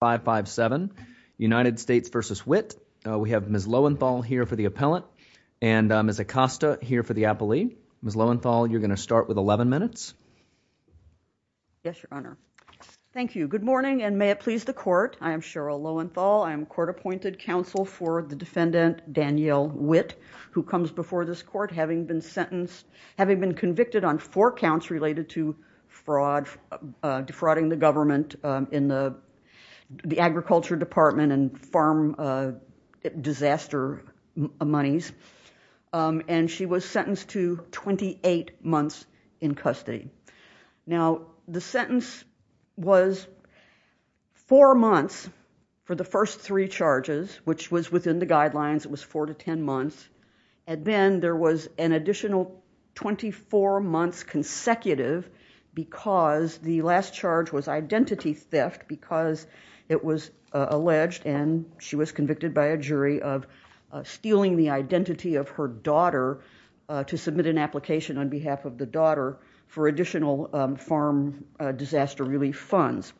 557 United States v. Witt. We have Ms. Lowenthal here for the appellant and Ms. Acosta here for the appellee. Ms. Lowenthal, you're going to start with 11 minutes. Yes, your honor. Thank you. Good morning and may it please the court. I am Cheryl Lowenthal. I am court appointed counsel for the defendant, Danyel Witt, who comes before this court having been sentenced, having been convicted on four counts related to fraud, defrauding the government in the agriculture department and farm disaster monies, and she was sentenced to 28 months in custody. Now, the sentence was four months for the first three charges, which was within the guidelines, it was four to ten months, and then there was an additional 24 months consecutive because the last charge was identity theft because it was alleged and she was convicted by a jury of stealing the identity of her daughter to submit an application on behalf of the daughter for additional farm disaster relief funds.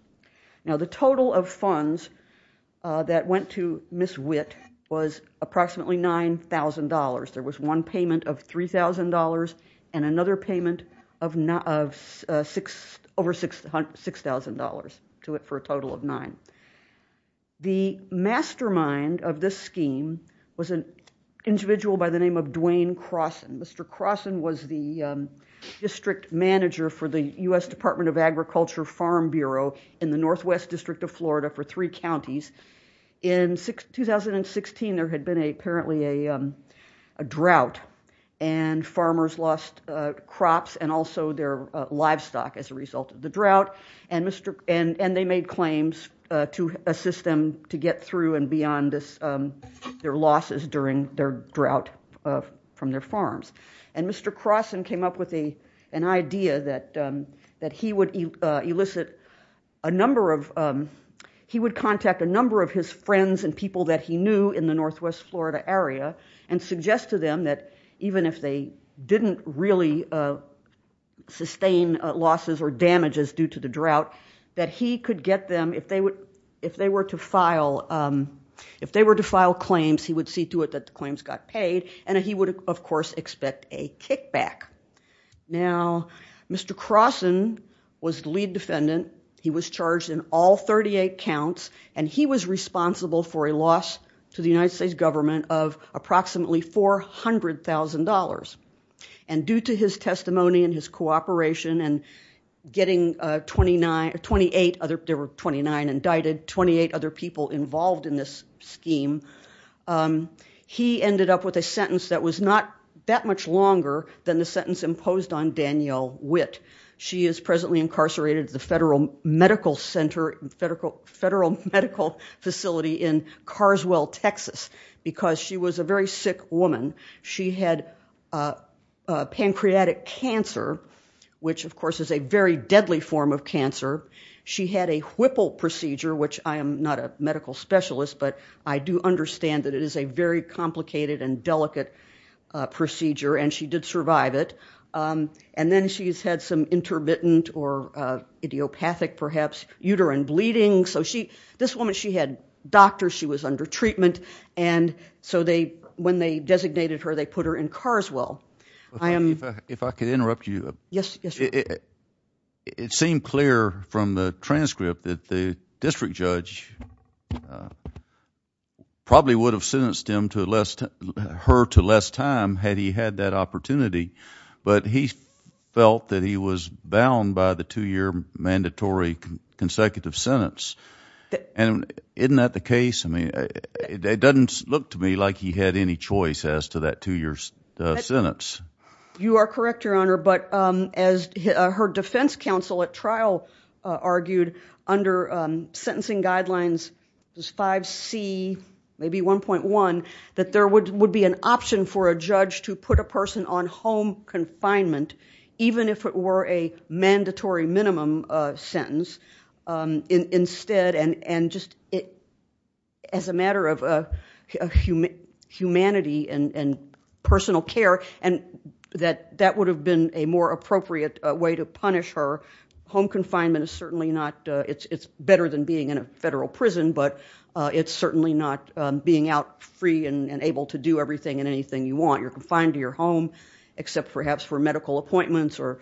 Now, the total of funds that went to Ms. Witt was approximately $9,000. There was one payment of $3,000 and another payment of over $6,000 to it for a total of nine. The mastermind of this scheme was an individual by the name of Dwayne Crosson. Mr. Crosson was the district manager for the U.S. Department of Agriculture Farm Bureau in the northwest district of Florida for three counties. In 2016, there had been apparently a drought and farmers lost crops and also their livestock as a result of the drought, and they made claims to assist them to get through and beyond their losses during their drought from their farms. Mr. Crosson came up with an idea that he would elicit a number of, he would contact a number of his friends and people that he knew in the northwest Florida area and suggest to them that even if they didn't really sustain losses or damages due to the drought, that he could get them, if they were to file claims, he would see to it that the claims got paid and he would, of course, expect a kickback. Now, Mr. Crosson was the lead defendant. He was charged in all 38 counts and he was responsible for a loss to the United States government of approximately $400,000. And due to his testimony and his cooperation and getting 29, there were 29 indicted, 28 other people involved in this scheme, he ended up with a sentence that was not that much longer than the sentence imposed on Danielle Witt. She is presently incarcerated at the Federal Medical Center, Federal Medical Facility in Carswell, Texas, because she was a very sick woman. She had pancreatic cancer, which of course is a very deadly form of cancer. She had a Whipple procedure, which I am not a medical specialist but I do understand that it is a very complicated and delicate procedure and she did survive it. And then she's had some intermittent or idiopathic perhaps, uterine bleeding. So this woman, she had doctors, she was under treatment and so when they designated her they put her in Carswell. If I could interrupt you. Yes, yes. It seemed clear from the transcript that the district judge probably would have sentenced her to less time had he had that opportunity, but he felt that he was bound by the two-year mandatory consecutive sentence. And isn't that the case? It doesn't look to me like he had any choice as to that two-year sentence. You are correct, Your Honor, but as her defense counsel at trial argued under sentencing guidelines 5C, maybe 1.1, that there would be an option for a judge to put a person on home confinement even if it were a mandatory minimum sentence instead and just as a matter of humanity and personal care and that would have been a more appropriate way to punish her. Home confinement is certainly not, it's better than being in a federal prison, but it's certainly not being out free and able to do everything and anything you want. You're confined to your home except perhaps for medical appointments or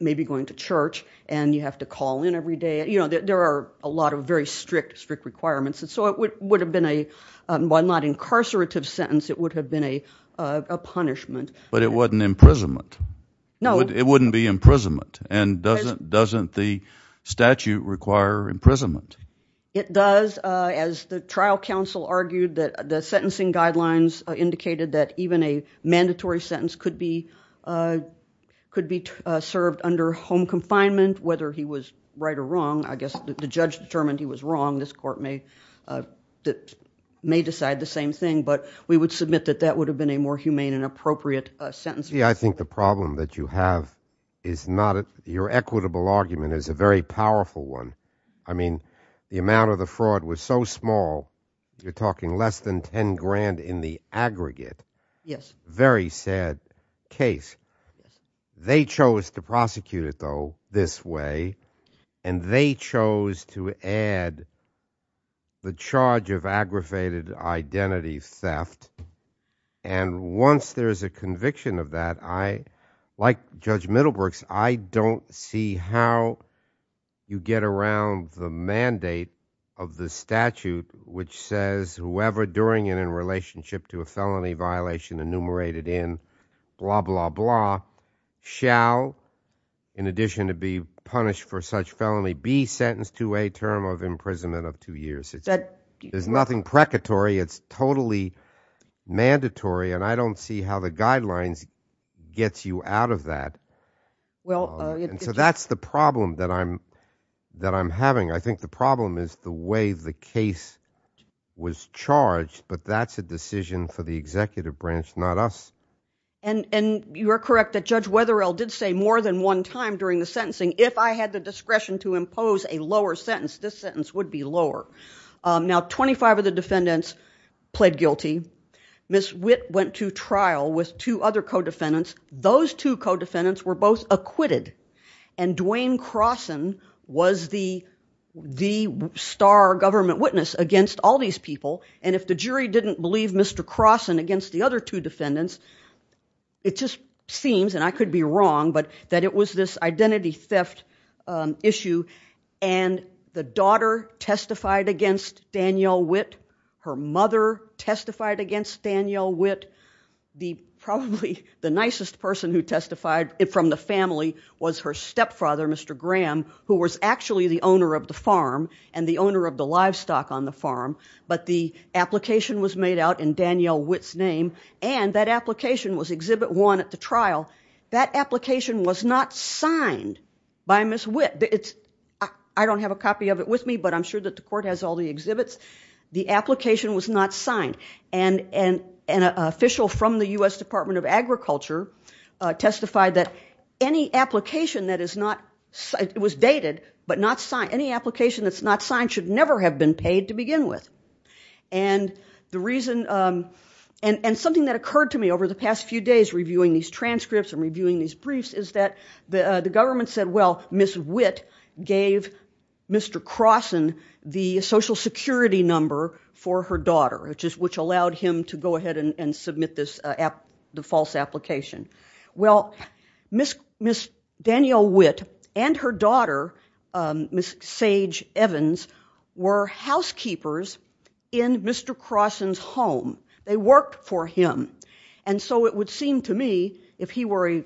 maybe going to church and you have to call in every day. There are a lot of very strict, strict requirements. So it would have been a, while not an incarcerative sentence, it would have been a punishment. But it wasn't imprisonment. No. It wouldn't be imprisonment. And doesn't the statute require imprisonment? It does. As the trial counsel argued, the sentencing guidelines indicated that even a mandatory sentence could be served under home confinement, whether he was right or wrong. I guess the judge determined he was wrong. This court may decide the same thing, but we would submit that that would have been a more humane and appropriate sentence. I think the problem that you have is not, your equitable argument is a very powerful one. I mean, the amount of the fraud was so small, you're talking less than 10 grand in the aggregate. Yes. Very sad case. They chose to prosecute it, though, this way. And they chose to add the charge of aggravated identity theft. And once there's a conviction of that, I, like Judge Middlebrooks, I don't see how you get around the mandate of the statute which says whoever during and in relationship to a felony violation enumerated in blah, blah, blah shall, in addition to be punished for such felony, be sentenced to a term of imprisonment of two years. There's nothing precatory. It's totally mandatory. And I don't see how the guidelines gets you out of that. Well, it's just... So that's the problem that I'm having. I think the problem is the way the case was charged but that's a decision for the executive branch, not us. And you're correct that Judge Wetherill did say more than one time during the sentencing, if I had the discretion to impose a lower sentence, this sentence would be lower. Now, 25 of the defendants pled guilty. Ms. Witt went to trial with two other co-defendants. Those two co-defendants were both acquitted. And Dwayne Crosson was the star government witness against all these people. And if the jury didn't believe Mr. Crosson against the other two defendants, it just seems, and I could be wrong, but that it was this identity theft issue. And the daughter testified against Danielle Witt. Her mother testified against Danielle Witt. Probably the nicest person who testified from the family was her stepfather, Mr. Graham, who was actually the owner of the farm and the owner of the livestock on the farm. But the application was made out in Danielle Witt's name and that application was Exhibit 1 at the trial. That application was not signed by Ms. Witt. I don't have a copy of it with me but I'm sure that the court has all the exhibits. The application was not signed. And an official from the U.S. Department of Agriculture testified that any application that is not, it was dated, but not signed, any application that's not signed should never have been paid to begin with. And the reason, and something that occurred to me over the past few days reviewing these transcripts and reviewing these briefs is that the government said, well, Ms. Witt gave Mr. Crosson the Social Security number for her daughter, which allowed him to go ahead and submit this, the false application. Well, Ms. Danielle Witt and her daughter, Ms. Sage Evans, were housekeepers in Mr. Crosson's home. They worked for him. And so it would seem to me if he were a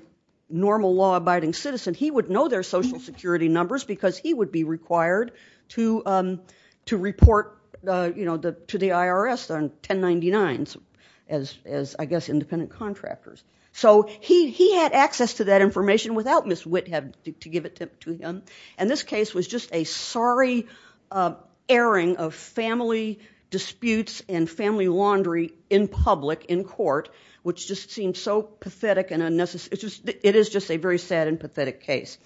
normal law-abiding citizen he would know their Social Security numbers because he would be required to report to the IRS on 1099s as, I guess, independent contractors. So he had access to that information without Ms. Witt having to give it to him. And this case was just a sorry airing of family disputes and family laundry in public, in court, which just seemed so pathetic and unnecessary. It is just a very sad and pathetic case.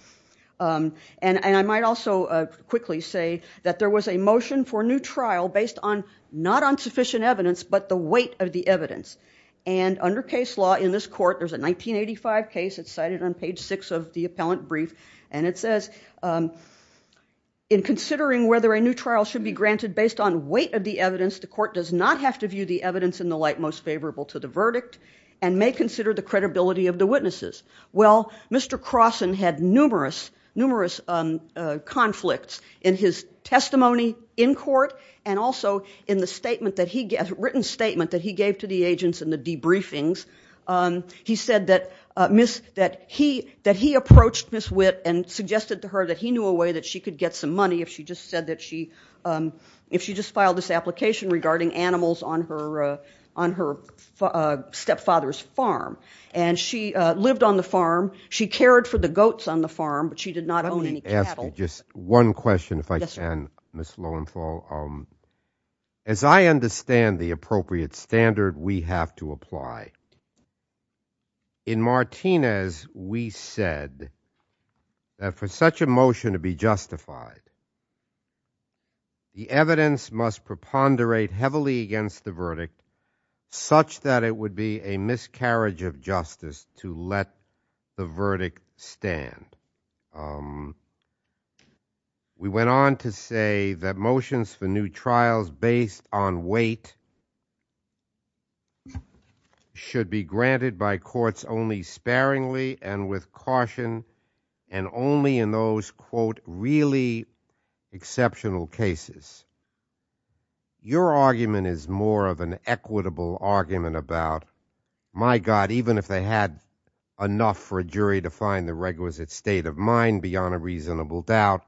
And I might also quickly say that there was a new trial based on, not on sufficient evidence, but the weight of the evidence. And under case law in this court, there's a 1985 case, it's cited on page six of the appellant brief, and it says, in considering whether a new trial should be granted based on weight of the evidence, the court does not have to view the evidence in the light most favorable to the verdict and may consider the credibility of the witnesses. Well, Mr. Crosson had numerous conflicts in his testimony in court and also in the written statement that he gave to the agents in the debriefings. He said that he approached Ms. Witt and suggested to her that he knew a way that she could get some money if she just said that she, if she just filed this application regarding animals on her stepfather's farm. And she lived on the farm, she cared for the goats on the farm, but she did not own any cattle. Let me ask you just one question if I can, Ms. Lowenthal. As I understand the appropriate standard we have to apply, in Martinez we said that for such a motion to be justified, the evidence must preponderate heavily against the verdict such that it would be a miscarriage of justice to let the verdict stand. We went on to say that motions for new trials based on weight should be granted by courts only sparingly and with caution and only in those quote really exceptional cases. Your argument is more of an equitable argument about my God, even if they had enough for a jury to find the requisite state of mind beyond a reasonable doubt,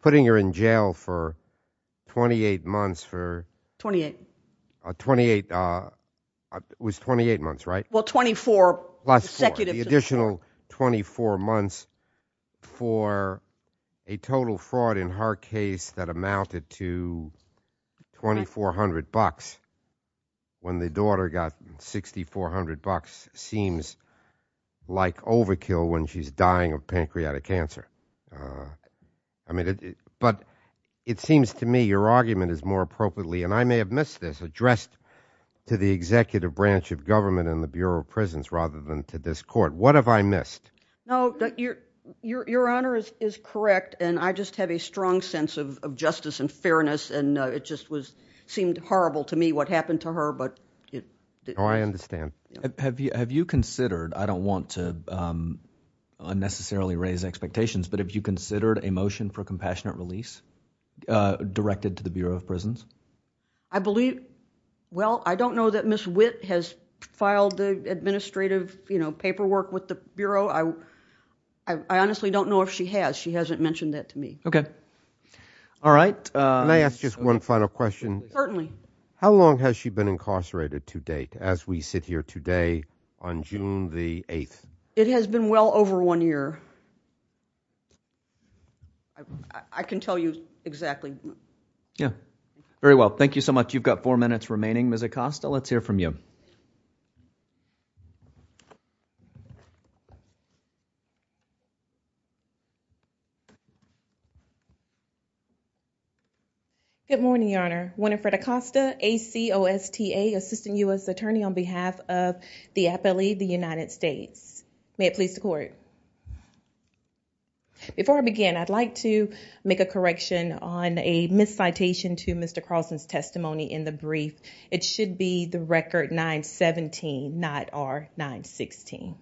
putting her in jail for 28 months for, 28, 28, it was 28 months right? Well 24, plus 4, the additional 24 months for a total fraud in her case that amounted to 2400 bucks when the daughter got 6400 bucks seems like overkill when she's dying of pancreatic cancer. But it seems to me your argument is more appropriately, and I may have missed this, addressed to the executive branch of government and the Bureau of Prisons rather than to this court. What have I missed? No, your honor is correct and I just have a strong sense of justice and fairness and it just seemed horrible to me what happened to her but... Oh I understand. Have you considered, I don't want to unnecessarily raise expectations, but have you considered a motion for compassionate release directed to the Bureau of Prisons? I believe, well I don't know that Ms. Witt has filed the administrative paperwork with the Bureau, I honestly don't know if she has, she hasn't mentioned that to me. Okay, alright. Can I ask just one final question? Certainly. How long has she been incarcerated to date as we sit here today on June the 8th? It has been well over one year. I can tell you exactly. Very well, thank you so much. You've got four minutes remaining, Ms. Acosta, let's hear from you. Good morning, your honor. Winifred Acosta, ACOSTA, Assistant U.S. Attorney on behalf of the Appellee of the United States. May it please the court. Before I begin, I'd like to make a correction on a miscitation to Mr. Carlson's testimony in the brief. It should be the record 917, not R916.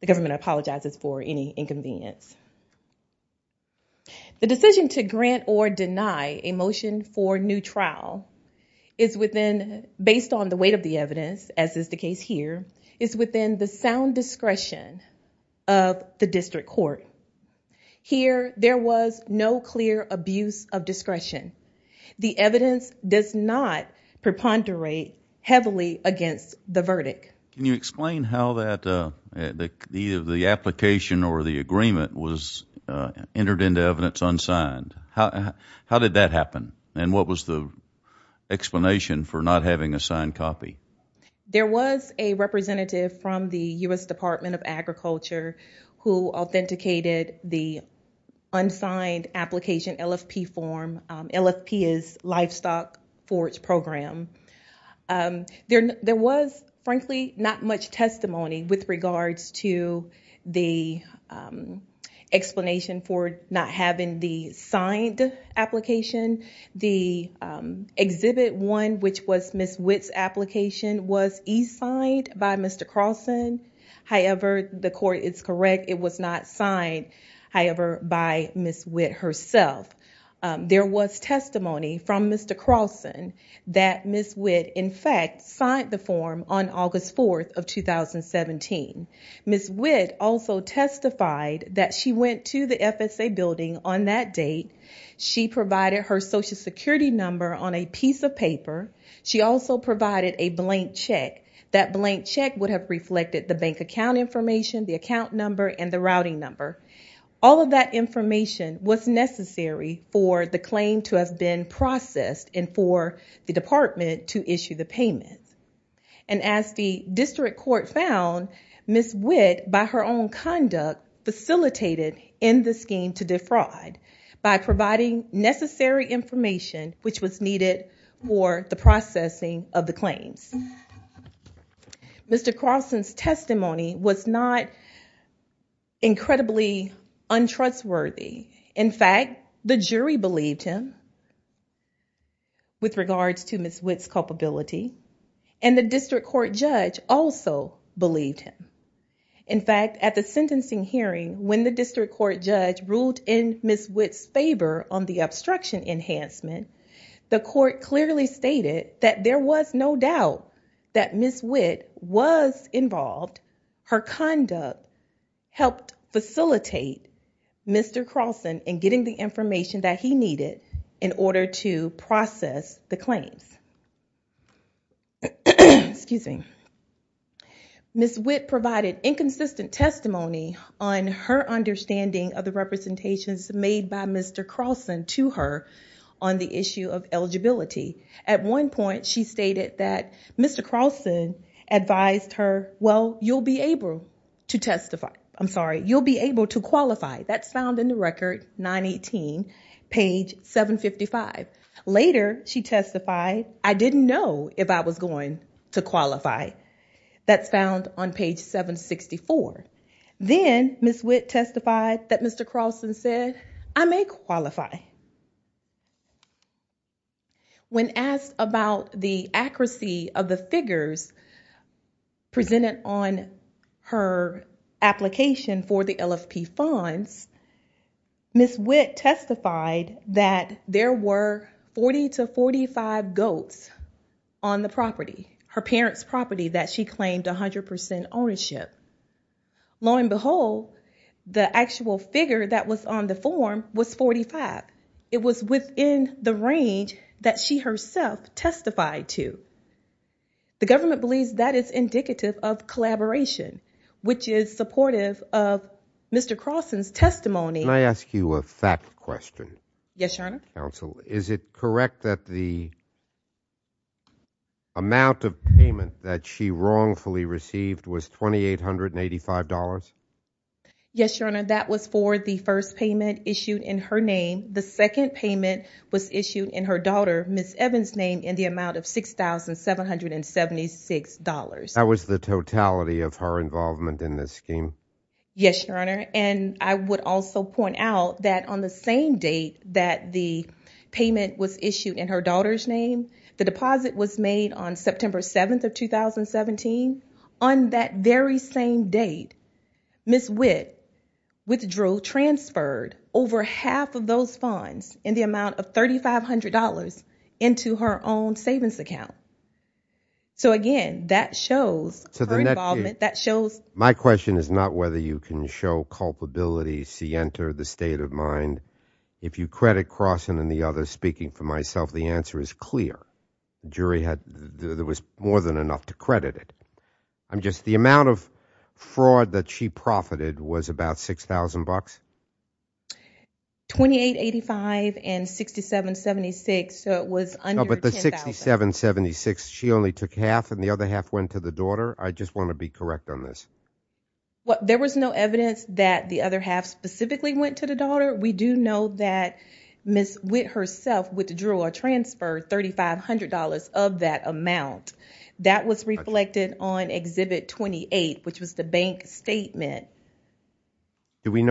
The government apologizes for any inconvenience. The decision to grant or deny a motion for new trial is within, based on the weight of the evidence, as is the case here, is within the sound discretion of the district court. Here, there was no clear abuse of discretion. The evidence does not preponderate heavily against the verdict. Can you explain how the application or the agreement was entered into evidence unsigned? How did that happen? And what was the explanation for not having a signed copy? There was a representative from the U.S. Department of Agriculture who authenticated the unsigned application LFP form. LFP is Livestock Forage Program. There was, frankly, not much testimony with regards to the explanation for not having the signed application. The Exhibit 1, which was Ms. Witt's application, was e-signed by Mr. Carlson. However, the court is correct. It was not signed, however, by Ms. Witt herself. There was testimony from Mr. Carlson that Ms. Witt, in fact, signed the form on August 4th of 2017. Ms. Witt also testified that she went to the FSA building on that date. She provided her Social Security number on a piece of paper. She also provided a blank check. That blank check would have reflected the bank account information, the account number, and the routing number. All of that information was necessary for the claim to have been processed and for the department to issue the payment. And as the district court found, Ms. Witt, by her own conduct, facilitated in the scheme to defraud by providing necessary information, which was needed for the processing of the claims. Mr. Carlson's testimony was not incredibly untrustworthy. In fact, the jury believed him with regards to Ms. Witt's culpability, and the district court judge also believed him. In fact, at the sentencing hearing, when the district court judge ruled in Ms. Witt's favor on the obstruction enhancement, the court clearly stated that there was no doubt that Ms. Witt was involved. Her conduct helped facilitate Mr. Carlson in getting the information that he needed in order to process the claims. Ms. Witt provided inconsistent testimony on her understanding of the representations made by Mr. Carlson to her on the issue of eligibility. At one point, she stated that Mr. Carlson advised her, well, you'll be able to qualify. That's found in the record, 918, page 755. Later she testified, I didn't know if I was going to qualify. That's found on page 764. Then Ms. Witt testified that Mr. Carlson said, I may qualify. When asked about the accuracy of the figures presented on her application for the LFP funds, Ms. Witt testified that there were 40 to 45 goats on the property, her parents' property that she claimed 100% ownership. Lo and behold, the actual figure that was on the form was 45. It was within the range that she herself testified to. The government believes that is indicative of collaboration, which is supportive of Mr. Carlson's testimony. Can I ask you a fact question? Yes, Your Honor. Is it correct that the amount of payment that she wrongfully received was $2,885? Yes, Your Honor. That was for the first payment issued in her name. The second payment was issued in her daughter, Ms. Evans' name, in the amount of $6,776. That was the totality of her involvement in this scheme? Yes, Your Honor. I would also point out that on the same date that the payment was issued in her daughter's name, the deposit was made on September 7th of 2017. On that very same date, Ms. Witt withdrew, transferred over half of those funds in the amount of $3,500 into her own savings account. Again, that shows her involvement. My question is not whether you can show culpability, scienter, the state of mind. If you credit Carlson and the others, speaking for myself, the answer is clear. The jury was more than enough to credit it. The amount of fraud that she profited was about $6,000? $2,885 and $6,776, so it was under $10,000. $6,776, she only took half and the other half went to the daughter? I just want to be correct on this. There was no evidence that the other half specifically went to the daughter. We do know that Ms. Witt herself withdrew or transferred $3,500 of that amount. That was reflected on Exhibit 28, which was the bank statement. There was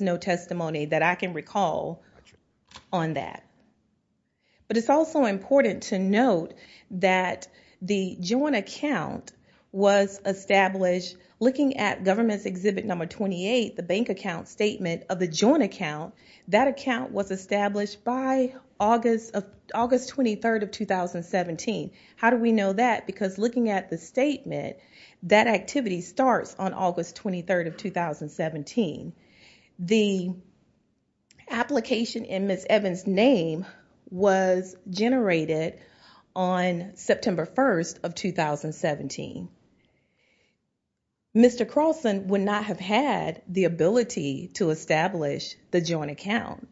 no testimony that I can recall on that. It is also important to note that the joint account was established looking at government's Exhibit 28, the bank account statement of the joint account, that account was established by August 23, 2017. How do we know that? Because looking at the statement, that activity starts on August 23, 2017. The application in Ms. Evans name was generated on September 1, 2017. Mr. Carlson would not have had the ability to establish the joint account.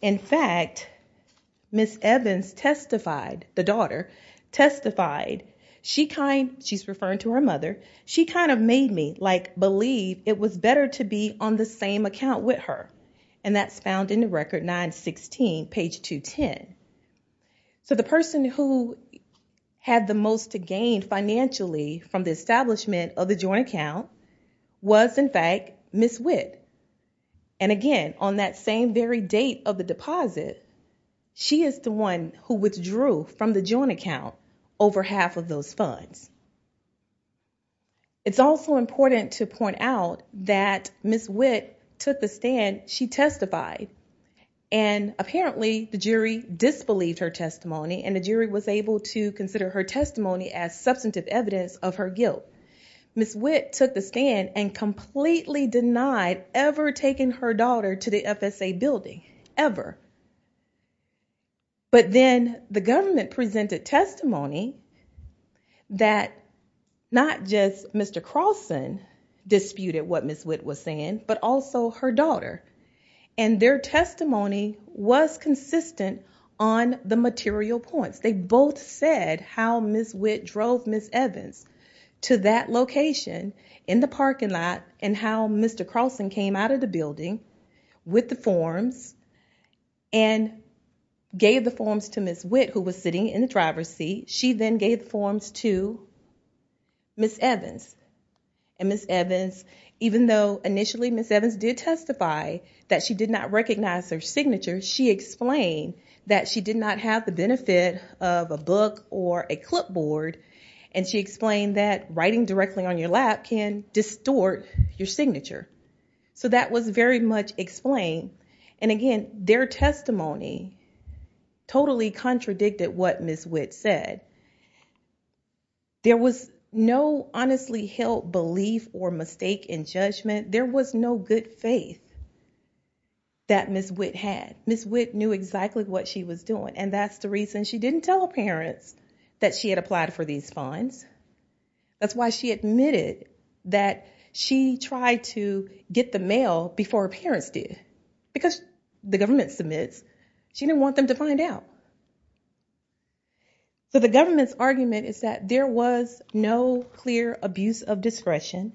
In fact, Ms. Evans testified, the daughter testified, she is referring to her mother, she kind of made me believe it was better to be on the same account with her. That is found in the record 916, page 210. The person who had the most to gain financially from the establishment of the joint account was in fact Ms. Witt. Again, on that same very date of the deposit, she is the one who testified. It is important to point out that Ms. Witt took the stand, she testified. Apparently, the jury disbelieved her testimony and the jury was able to consider her testimony as substantive evidence of her guilt. Ms. Witt took the stand and completely denied ever taking her daughter to the FSA building, ever. But then, the government presented testimony that not just Mr. Carlson disputed what Ms. Witt was saying, but also her daughter. And their testimony was consistent on the material points. They both said how Ms. Witt drove Ms. Evans to that location in the parking lot and how Mr. Carlson came out of the building with the forms and gave the forms to Ms. Witt who was sitting in the driver's seat. She then gave the forms to Ms. Evans. Even though initially Ms. Evans did testify that she did not recognize her signature, she explained that she did not have the benefit of a book or a clipboard and she explained that writing directly on your lap can distort your signature. So that was very much explained. And again, their testimony totally contradicted what Ms. Witt said. There was no honestly held belief or mistake in judgment. There was no good faith that Ms. Witt had. Ms. Witt knew exactly what she was doing and that's the reason she didn't tell her parents that she had applied for these funds. That's why she admitted that she tried to get the mail before her parents did. Because the government submits, she didn't want them to find out. So the government's argument is that there was no clear abuse of discretion.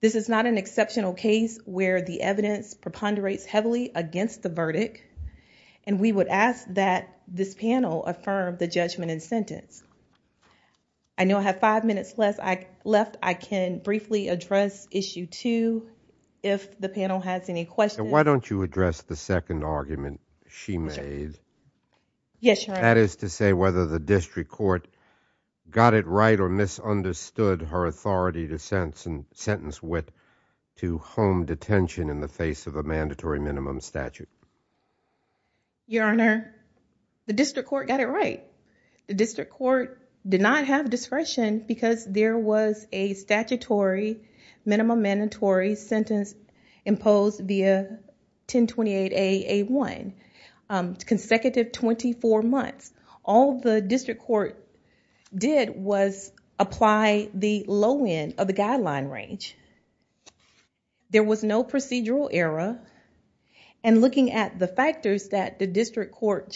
This is not an exceptional case where the evidence preponderates heavily against the verdict and we would ask that this panel affirm the judgment and sentence. I know I have five minutes left. I can briefly address issue two if the panel has any questions. Why don't you address the second argument she made. That is to say whether the district court got it right or misunderstood her authority to sentence Ms. Witt to home detention in the face of a mandatory minimum statute. Your Honor, the district court got it right. The district court did not have discretion because there was a statutory minimum mandatory sentence imposed via 1028 A.A.1. Consecutive 24 months. All the district court did was apply the low end of the guideline range. There was no procedural error and looking at the factors that the district court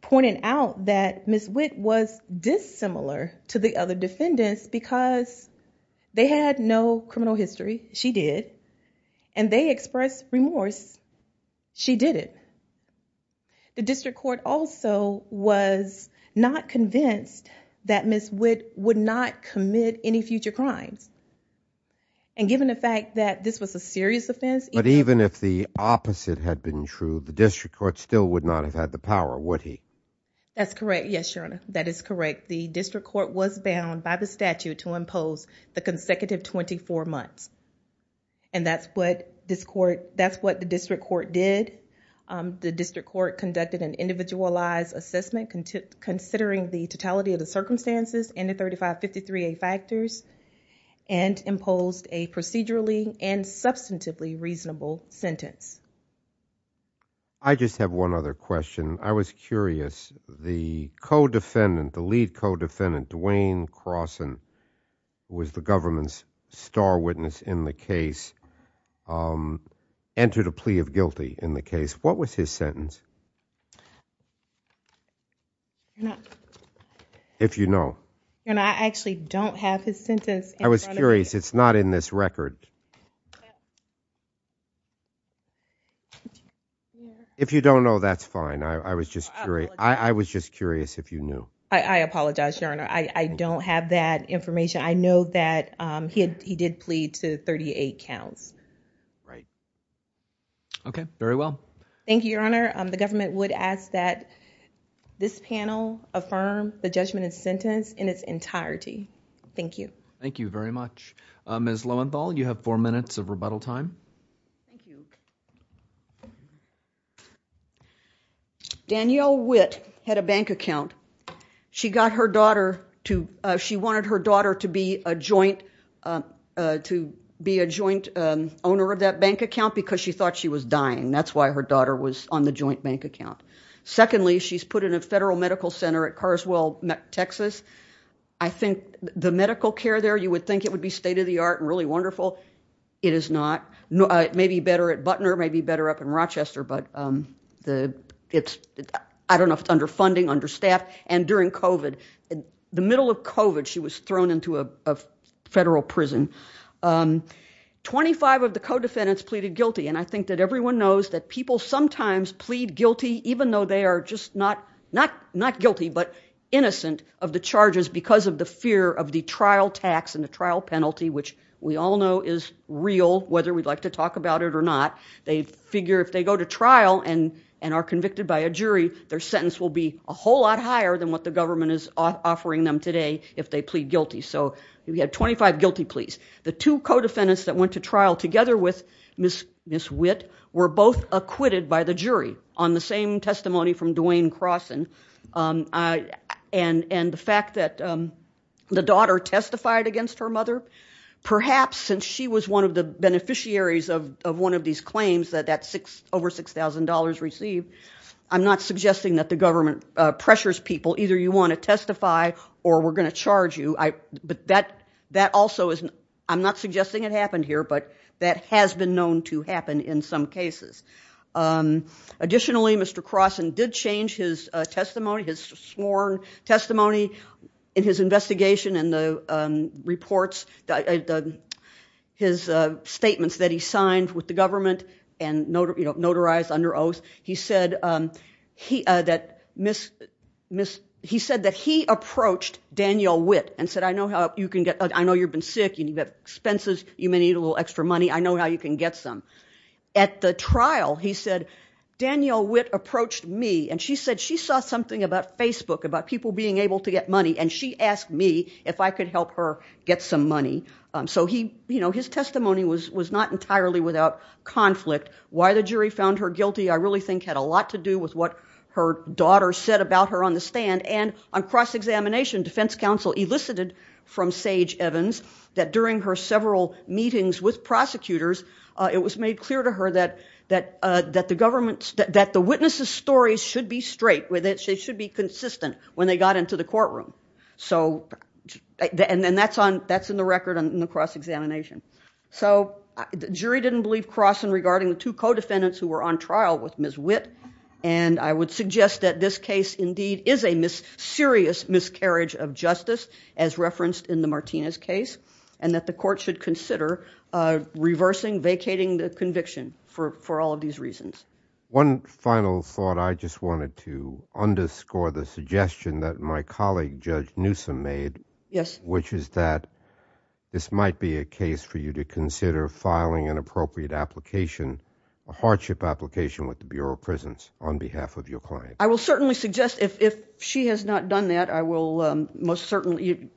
pointed out that Ms. Witt was dissimilar to the other defendants because they had no criminal history. She did. And they expressed remorse. She didn't. The district court also was not convinced that Ms. Witt would not commit any future crimes. And given the fact that this was a serious offense. But even if the opposite had been true, the district court would not have been able to impose the power, would he? That's correct. Yes, Your Honor. That is correct. The district court was bound by the statute to impose the consecutive 24 months. And that's what the district court did. The district court conducted an individualized assessment considering the totality of the circumstances and the 3553A factors and imposed a procedurally and substantively reasonable sentence. I just have one other question. I was curious. The co-defendant, the lead co-defendant, Dwayne Croson, who was the government's star witness in the case, entered a plea of guilty in the case. What was his sentence? Your Honor. If you know. Your Honor, I actually don't have his sentence. I was curious. It's not in this record. If you don't know, that's fine. Your Honor, I was just curious if you knew. I apologize, Your Honor. I don't have that information. I know that he did plead to 38 counts. Okay. Very well. Thank you, Your Honor. The government would ask that this panel affirm the judgment and sentence in its entirety. Thank you. Thank you very much. Ms. Lowenthal, you have four minutes of rebuttal time. Thank you. Danielle Witt had a bank account. She wanted her daughter to be a joint owner of that bank account because she thought she was dying. That's why her daughter was on the joint bank account. Secondly, she's put in a federal medical center at Carswell, Texas. I think the medical care there, you would think it would be state of the art and really wonderful. It is not. It may be better at Butner, maybe better up in Rochester. I don't know if it's under funding, under staff. During COVID, in the middle of COVID, she was thrown into a federal prison. Twenty-five of the co-defendants pleaded guilty. I think that everyone knows that people sometimes plead guilty, even though they are just not guilty, but innocent of the charges because of the fear of the trial tax and the trial penalty, which we all know is real, whether we'd like to talk about it or not. They figure if they go to trial and are convicted by a jury, their sentence will be a whole lot higher than what the government is offering them today if they plead guilty. We have 25 guilty pleas. The two co-defendants that went to trial together with Ms. Witt were both acquitted by the jury on the same fact that the daughter testified against her mother. Perhaps, since she was one of the beneficiaries of one of these claims that that over $6,000 received, I'm not suggesting that the government pressures people. Either you want to testify or we're going to charge you. I'm not suggesting it happened here, but that has been known to happen in some ways. In his investigation and his statements that he signed with the government and notarized under oath, he said that he approached Daniel Witt and said, I know you've been sick, you've got expenses, you may need a little extra money, I know how you can get some. At the trial, he said, Daniel Witt approached me and she said she saw something about Facebook, about people being able to get money. She asked me if I could help her get some money. His testimony was not entirely without conflict. Why the jury found her guilty I really think had a lot to do with what her daughter said about her on the stand. On cross-examination, defense counsel elicited from Sage Evans that during her several meetings with prosecutors, it was made clear to her that the witnesses' stories should be straight, that they should be consistent when they got into the courtroom. That's in the record in the cross-examination. Jury didn't believe Croson regarding the two co-defendants who were on trial with Ms. Witt. I would suggest that this case indeed is a serious miscarriage of justice as referenced in the Martinez case and that the court should consider reversing, vacating the conviction for all of these reasons. One final thought, I just wanted to underscore the suggestion that my colleague Judge Newsom made, which is that this might be a case for you to consider filing an appropriate application, a hardship application with the Bureau of Prisons on behalf of your client. I will certainly suggest if she has not done that, I will most certainly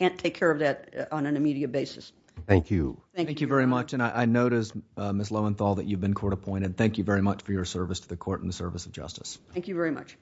take care of that on an immediate basis. Thank you. Thank you very much. I noticed, Ms. Lowenthal, that you've been court-appointed. Thank you very much for your service to the court and the service of justice. Thank you very much.